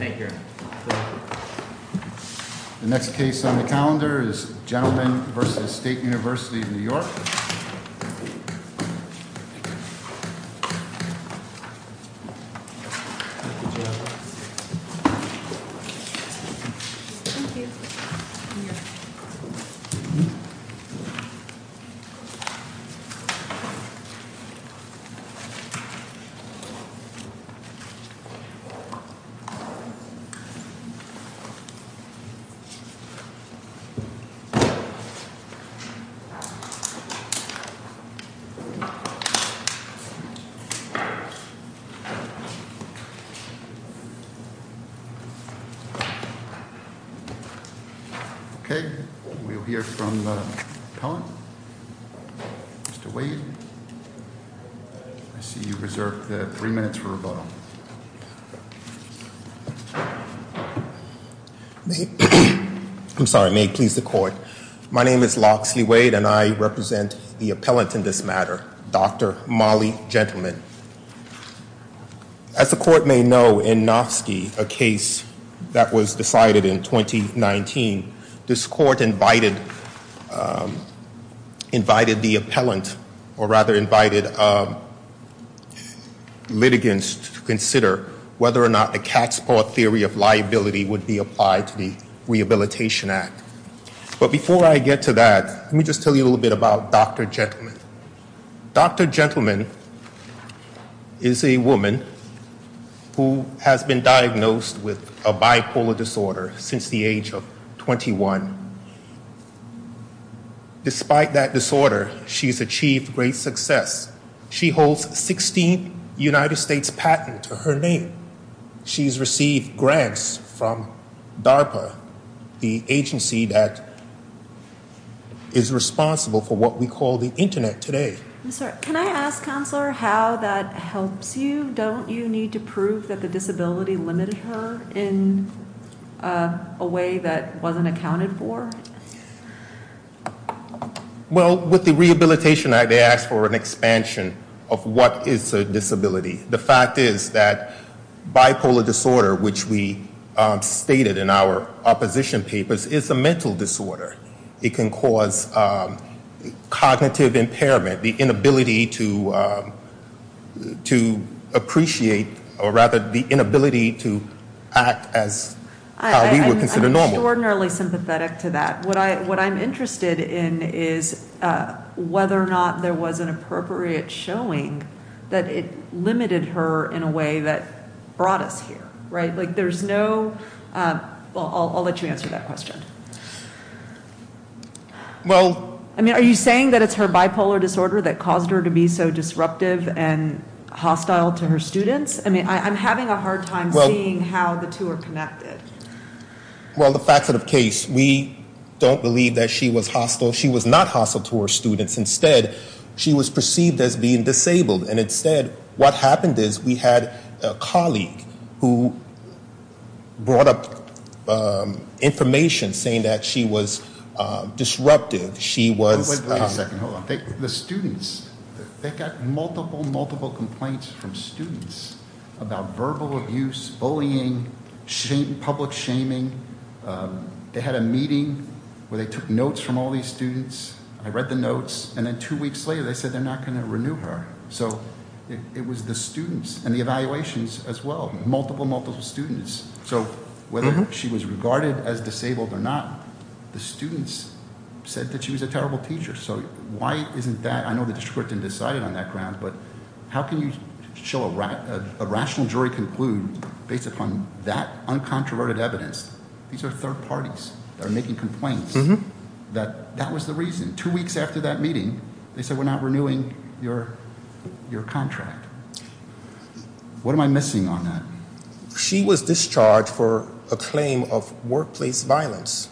The next case on the calendar is Gentleman v. State University of New York. Okay, we'll hear from the appellant, Mr. Wade. I see you reserved three minutes for I'm sorry, may it please the court. My name is Loxley Wade and I represent the appellant in this matter, Dr. Molly Gentleman. As the court may know, in Nofsky, a case that was decided in 2019, this court invited the appellant, or rather invited litigants to consider whether or not the Catspaw Theory of Liability would be applied to the Rehabilitation Act. But before I get to that, let me just tell you a little bit about Dr. Gentleman. Dr. Gentleman is a woman who has been diagnosed with a bipolar disorder since the age of 21. Despite that disorder, she's achieved great success. She holds 16th United States patent to her name. She's received grants from DARPA, the agency that is responsible for what we call the internet today. Can I ask, Counselor, how that helps you? Don't you need to prove that the disability limited her in a way that wasn't accounted for? Well, with the Rehabilitation Act, they asked for an expansion of what is a disability. The fact is that bipolar disorder, which we stated in our opposition papers, is a mental disorder. It can cause cognitive impairment, the inability to appreciate, or rather, the inability to act as how we would consider normal. I'm extraordinarily sympathetic to that. What I'm interested in is whether or not there was an appropriate showing that it limited her in a way that brought us here. I'll let you answer that question. Are you saying that it's her bipolar disorder that caused her to be so disruptive and hostile to her students? I'm having a hard time seeing how the two are connected. Well, the fact of the case, we don't believe that she was hostile. She was not hostile to her students. Instead, she was perceived as being disabled. And instead, what happened is we had a colleague who brought up information saying that she was disruptive. The students, they got multiple, multiple complaints from students about verbal abuse, bullying, public shaming. They had a meeting where they took notes from all these students. I read the notes, and then two weeks later, they said they're not going to renew her. So it was the students and the evaluations as well, multiple, multiple students. So whether she was regarded as disabled or not, the students said that she was a terrible teacher. So why isn't that? I know the district court didn't decide it on that ground, but how can you show a rational jury conclude based upon that uncontroverted evidence? These are third parties that are making complaints that that was the reason. Two weeks after that meeting, they said we're not renewing your contract. What am I missing on that? She was discharged for a claim of workplace violence.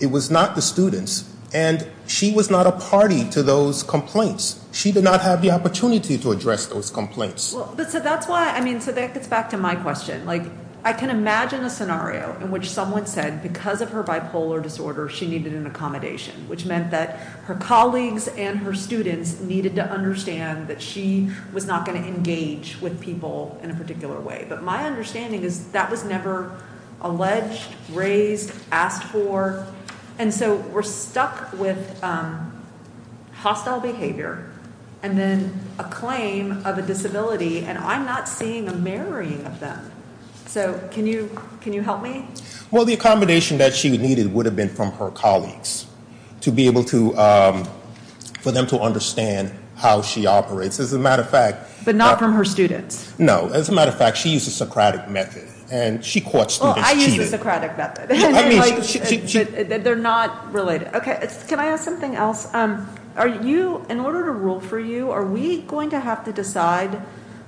It was not the students, and she was not a party to those complaints. She did not have the opportunity to address those complaints. So that's why, I mean, so that gets back to my question. Like, I can imagine a scenario in which someone said because of her bipolar disorder, she needed an accommodation, which meant that her colleagues and her students needed to understand that she was not going to engage with people in a particular way. But my understanding is that was never alleged, raised, asked for. And so we're stuck with hostile behavior and then a claim of a disability, and I'm not seeing a marrying of them. So can you help me? Well, the accommodation that she needed would have been from her colleagues to be able to, for them to understand how she operates. As a matter of fact- But not from her students. No. As a matter of fact, she used the Socratic method, and she caught students cheating. Well, I used the Socratic method. I mean, she- They're not related. Okay. Can I ask something else? In order to rule for you, are we going to have to decide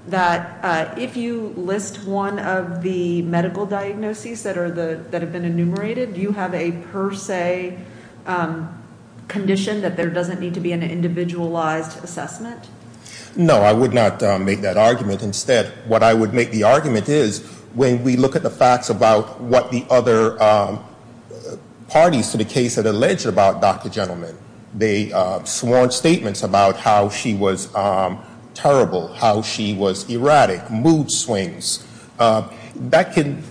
that if you list one of the medical diagnoses that have been enumerated, do you have a per se condition that there doesn't need to be an individualized assessment? No, I would not make that argument. Instead, what I would make the argument is when we look at the facts about what the other parties to the case had alleged about Dr. Gentleman, they sworn statements about how she was terrible, how she was erratic, mood swings. That can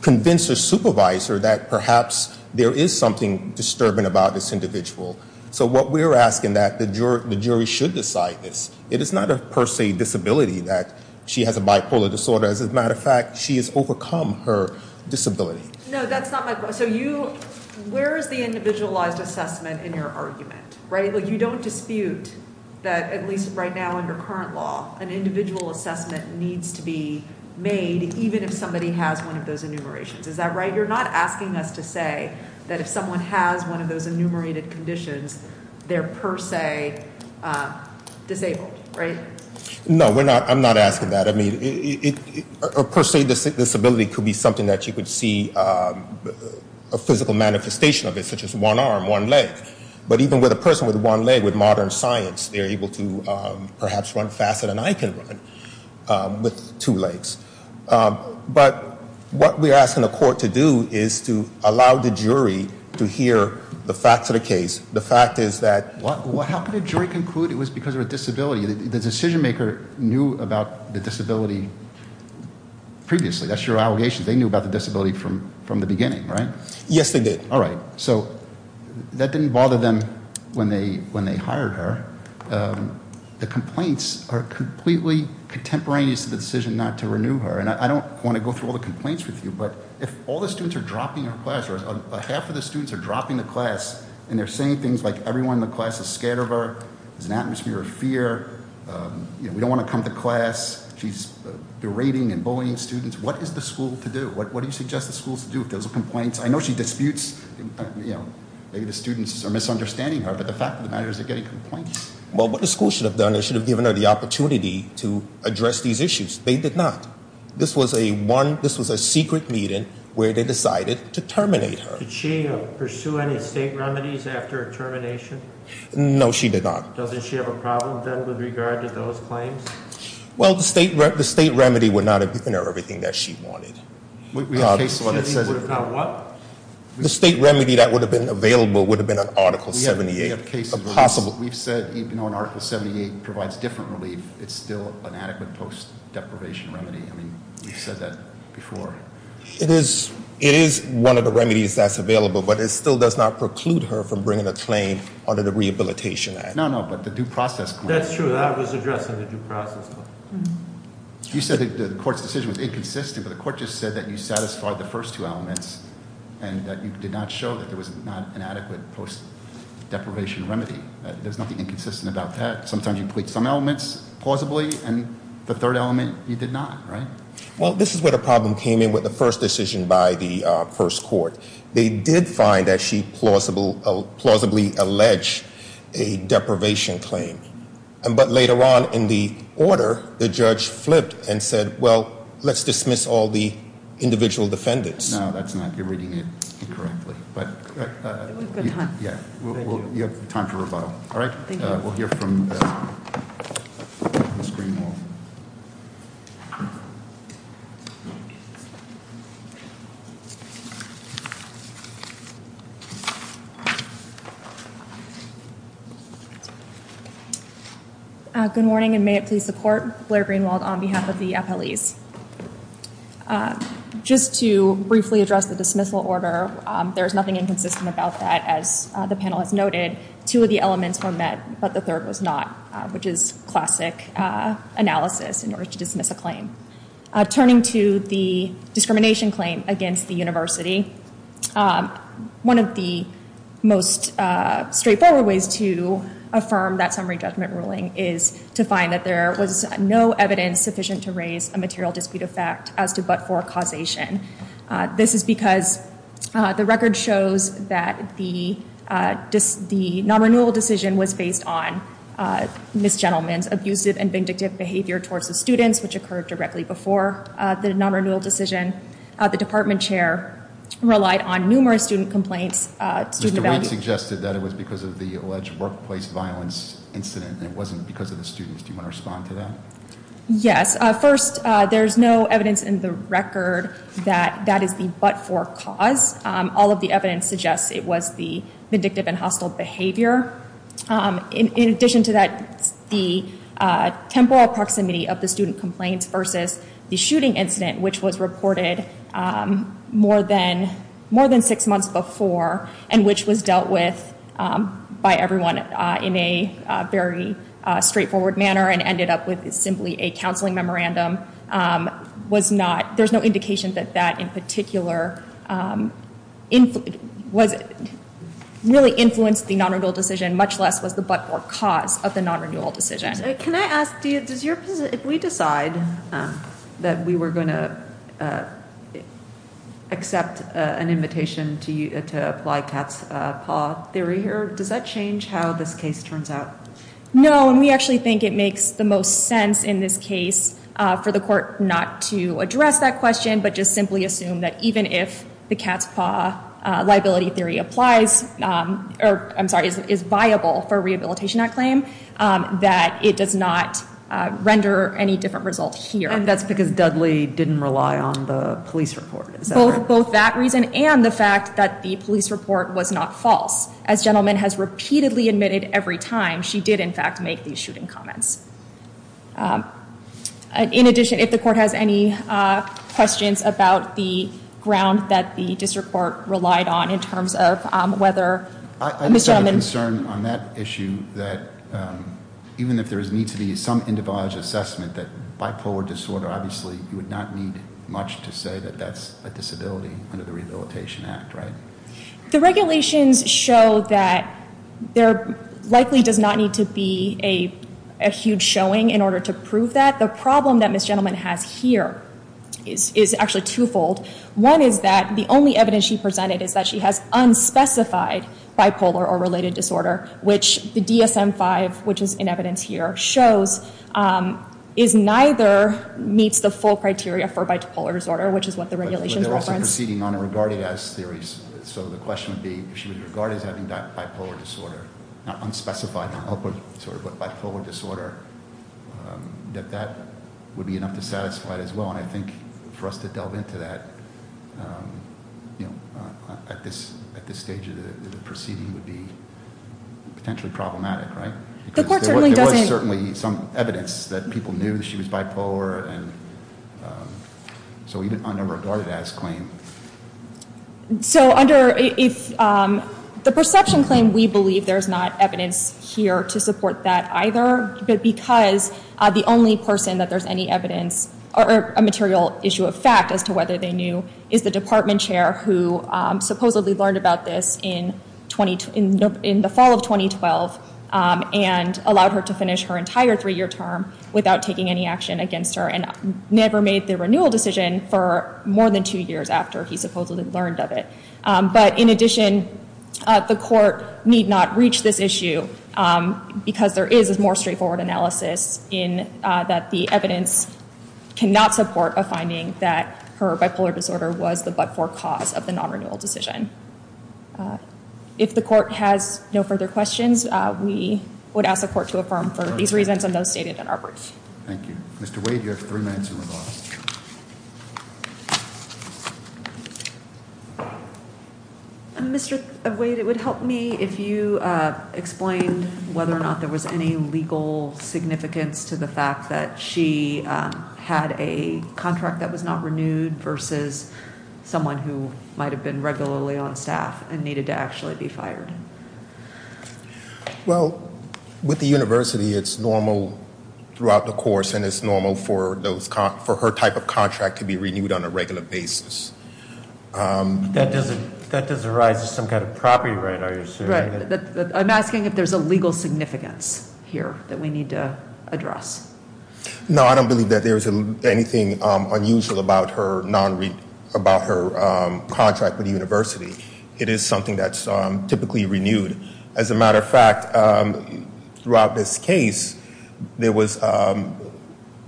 convince a supervisor that perhaps there is something disturbing about this individual. So what we're asking that the jury should decide this. It is not a per se disability that she has a bipolar disorder. As a matter of fact, she has overcome her disability. No, that's not my point. So where is the individualized assessment in your argument? You don't dispute that, at least right now under current law, an individual assessment needs to be made even if somebody has one of those enumerations. Is that right? You're not asking us to say that if someone has one of those enumerated conditions, they're per se disabled, right? No, I'm not asking that. I mean, a per se disability could be something that you could see a physical manifestation of it, such as one arm, one leg. But even with a person with one leg, with modern science, they're able to perhaps run faster than I can run with two legs. But what we're asking the court to do is to allow the jury to hear the facts of the case. The fact is that- How could a jury conclude it was because of a disability? The decision maker knew about the disability previously. That's your allegation. They knew about the disability from the beginning, right? Yes, they did. All right. So that didn't bother them when they hired her. The complaints are completely contemporaneous to the decision not to renew her. And I don't want to go through all the complaints with you, but if all the students are dropping her class or half of the students are dropping the class and they're saying things like everyone in the class is scared of her, there's an atmosphere of fear, we don't want to come to class, she's berating and bullying students. What is the school to do? What do you suggest the schools do if there's a complaint? I know she disputes, maybe the students are misunderstanding her, but the fact of the matter is they're getting complaints. Well, what the school should have done is should have given her the opportunity to address these issues. They did not. This was a secret meeting where they decided to terminate her. Did she pursue any state remedies after her termination? No, she did not. Doesn't she have a problem then with regard to those claims? Well, the state remedy would not have given her everything that she wanted. We have cases where it says- What? The state remedy that would have been available would have been an Article 78. We have cases where we've said even though an Article 78 provides different relief, it's still an adequate post-deprivation remedy. I mean, you've said that before. It is one of the remedies that's available, but it still does not preclude her from bringing a claim under the Rehabilitation Act. No, no, but the due process- That's true. I was addressing the due process. You said that the court's decision was inconsistent, but the court just said that you satisfied the first two elements and that you did not show that there was not an adequate post-deprivation remedy. There's nothing inconsistent about that. Sometimes you plead some elements plausibly, and the third element you did not, right? Well, this is where the problem came in with the first decision by the first court. They did find that she plausibly alleged a deprivation claim. But later on in the order, the judge flipped and said, well, let's dismiss all the individual defendants. No, that's not- you're reading it incorrectly. We've got time. Yeah, we'll- you have time to rebuttal. All right? Thank you. We'll hear from Ms. Greenwald. Good morning, and may it please the court, Blair Greenwald on behalf of the appellees. Just to briefly address the dismissal order, there is nothing inconsistent about that. As the panel has noted, two of the elements were met, but the third was not, which is classic analysis in order to dismiss a claim. Turning to the discrimination claim against the university, one of the most straightforward ways to affirm that summary judgment ruling is to find that there was no evidence sufficient to raise a material dispute of fact as to but-for causation. This is because the record shows that the non-renewal decision was based on Ms. Gentleman's abusive and vindictive behavior towards the students, which occurred directly before the non-renewal decision. The department chair relied on numerous student complaints- Mr. Weed suggested that it was because of the alleged workplace violence incident, and it wasn't because of the students. Do you want to respond to that? Yes. First, there's no evidence in the record that that is the but-for cause. All of the evidence suggests it was the vindictive and hostile behavior. In addition to that, the temporal proximity of the student complaints versus the shooting incident, which was reported more than six months before and which was dealt with by everyone in a very straightforward manner and ended up with simply a counseling memorandum, there's no indication that that in particular really influenced the non-renewal decision, much less was the but-for cause of the non-renewal decision. Can I ask, if we decide that we were going to accept an invitation to apply Katz-Paw theory here, does that change how this case turns out? No, and we actually think it makes the most sense in this case for the court not to address that question, but just simply assume that even if the Katz-Paw liability theory applies, or I'm sorry, is viable for a Rehabilitation Act claim, that it does not render any different result here. And that's because Dudley didn't rely on the police report, is that right? Both that reason and the fact that the police report was not false. As Gentleman has repeatedly admitted every time, she did, in fact, make these shooting comments. In addition, if the court has any questions about the ground that the district court relied on in terms of whether- I have a concern on that issue that even if there is need to be some individualized assessment that bipolar disorder, obviously you would not need much to say that that's a disability under the Rehabilitation Act, right? The regulations show that there likely does not need to be a huge showing in order to prove that. The problem that Ms. Gentleman has here is actually twofold. One is that the only evidence she presented is that she has unspecified bipolar or related disorder, which the DSM-5, which is in evidence here, shows is neither meets the full criteria for bipolar disorder, which is what the regulations reference. The court is proceeding on a regarded-as theory, so the question would be if she was regarded as having bipolar disorder, not unspecified, not open disorder, but bipolar disorder, that that would be enough to satisfy it as well. And I think for us to delve into that at this stage of the proceeding would be potentially problematic, right? The court certainly doesn't- There was certainly some evidence that people knew that she was bipolar, and so even under a regarded-as claim- So under the perception claim, we believe there's not evidence here to support that either, but because the only person that there's any evidence or a material issue of fact as to whether they knew is the department chair who supposedly learned about this in the fall of 2012 and allowed her to finish her entire three-year term without taking any action against her and never made the renewal decision for more than two years after he supposedly learned of it. But in addition, the court need not reach this issue because there is a more straightforward analysis in that the evidence cannot support a finding that her bipolar disorder was the but-for cause of the non-renewal decision. If the court has no further questions, we would ask the court to affirm for these reasons and those stated in our words. Thank you. Mr. Wade, you have three minutes to evolve. Mr. Wade, it would help me if you explained whether or not there was any legal significance to the fact that she had a contract that was not renewed versus someone who might have been regularly on staff and needed to actually be fired. Well, with the university, it's normal throughout the course and it's normal for her type of contract to be renewed on a regular basis. That doesn't arise as some kind of property right, are you saying? I'm asking if there's a legal significance here that we need to address. No, I don't believe that there's anything unusual about her contract with the university. It is something that's typically renewed. As a matter of fact, throughout this case, there was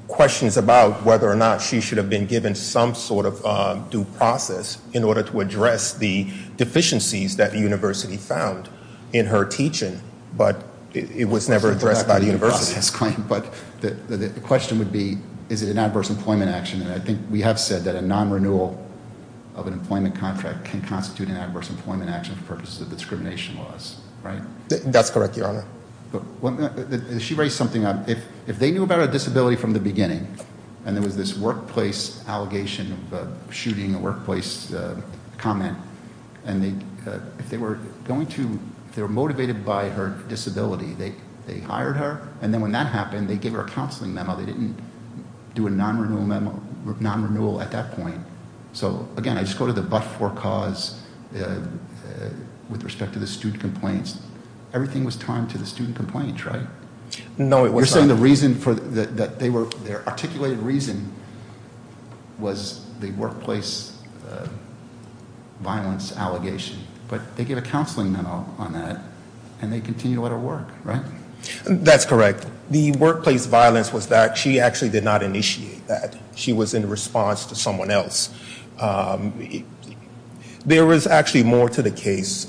questions about whether or not she should have been given some sort of due process in order to address the deficiencies that the university found in her teaching, but it was never addressed by the university. But the question would be, is it an adverse employment action? I think we have said that a non-renewal of an employment contract can constitute an adverse employment action for purposes of discrimination laws, right? That's correct, Your Honor. She raised something, if they knew about her disability from the beginning, and there was this workplace allegation of shooting, a workplace comment, and if they were motivated by her disability, they hired her, and then when that happened, they gave her a counseling memo. They didn't do a non-renewal at that point. So again, I just go to the but-for cause with respect to the student complaints. Everything was timed to the student complaints, right? No, it was not. You're saying their articulated reason was the workplace violence allegation, but they gave a counseling memo on that, and they continue to let her work, right? That's correct. The workplace violence was that she actually did not initiate that. She was in response to someone else. There was actually more to the case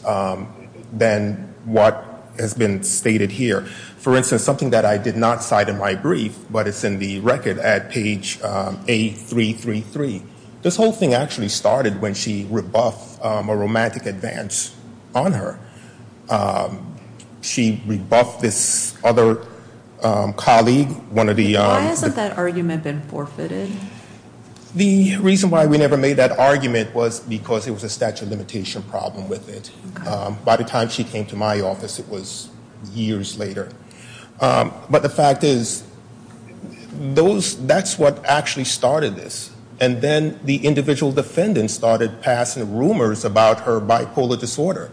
than what has been stated here. For instance, something that I did not cite in my brief, but it's in the record at page A333. This whole thing actually started when she rebuffed a romantic advance on her. She rebuffed this other colleague. Why hasn't that argument been forfeited? The reason why we never made that argument was because it was a statute of limitation problem with it. By the time she came to my office, it was years later. But the fact is, that's what actually started this, and then the individual defendants started passing rumors about her bipolar disorder,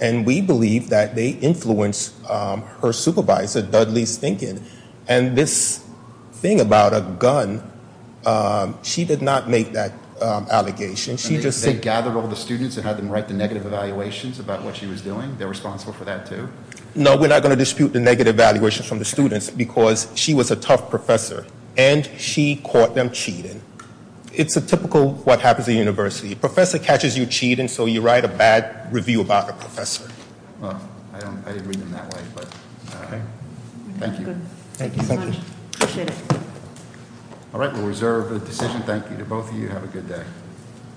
and we believe that they influenced her supervisor, Dudley Stinkin. And this thing about a gun, she did not make that allegation. They gathered all the students and had them write the negative evaluations about what she was doing? They're responsible for that, too? No, we're not going to dispute the negative evaluations from the students, because she was a tough professor, and she caught them cheating. It's a typical what happens at a university. A professor catches you cheating, so you write a bad review about the professor. Well, I didn't read them that way, but all right. Thank you. Thank you so much. Appreciate it. All right, we'll reserve the decision. Thank you. To both of you, have a good day.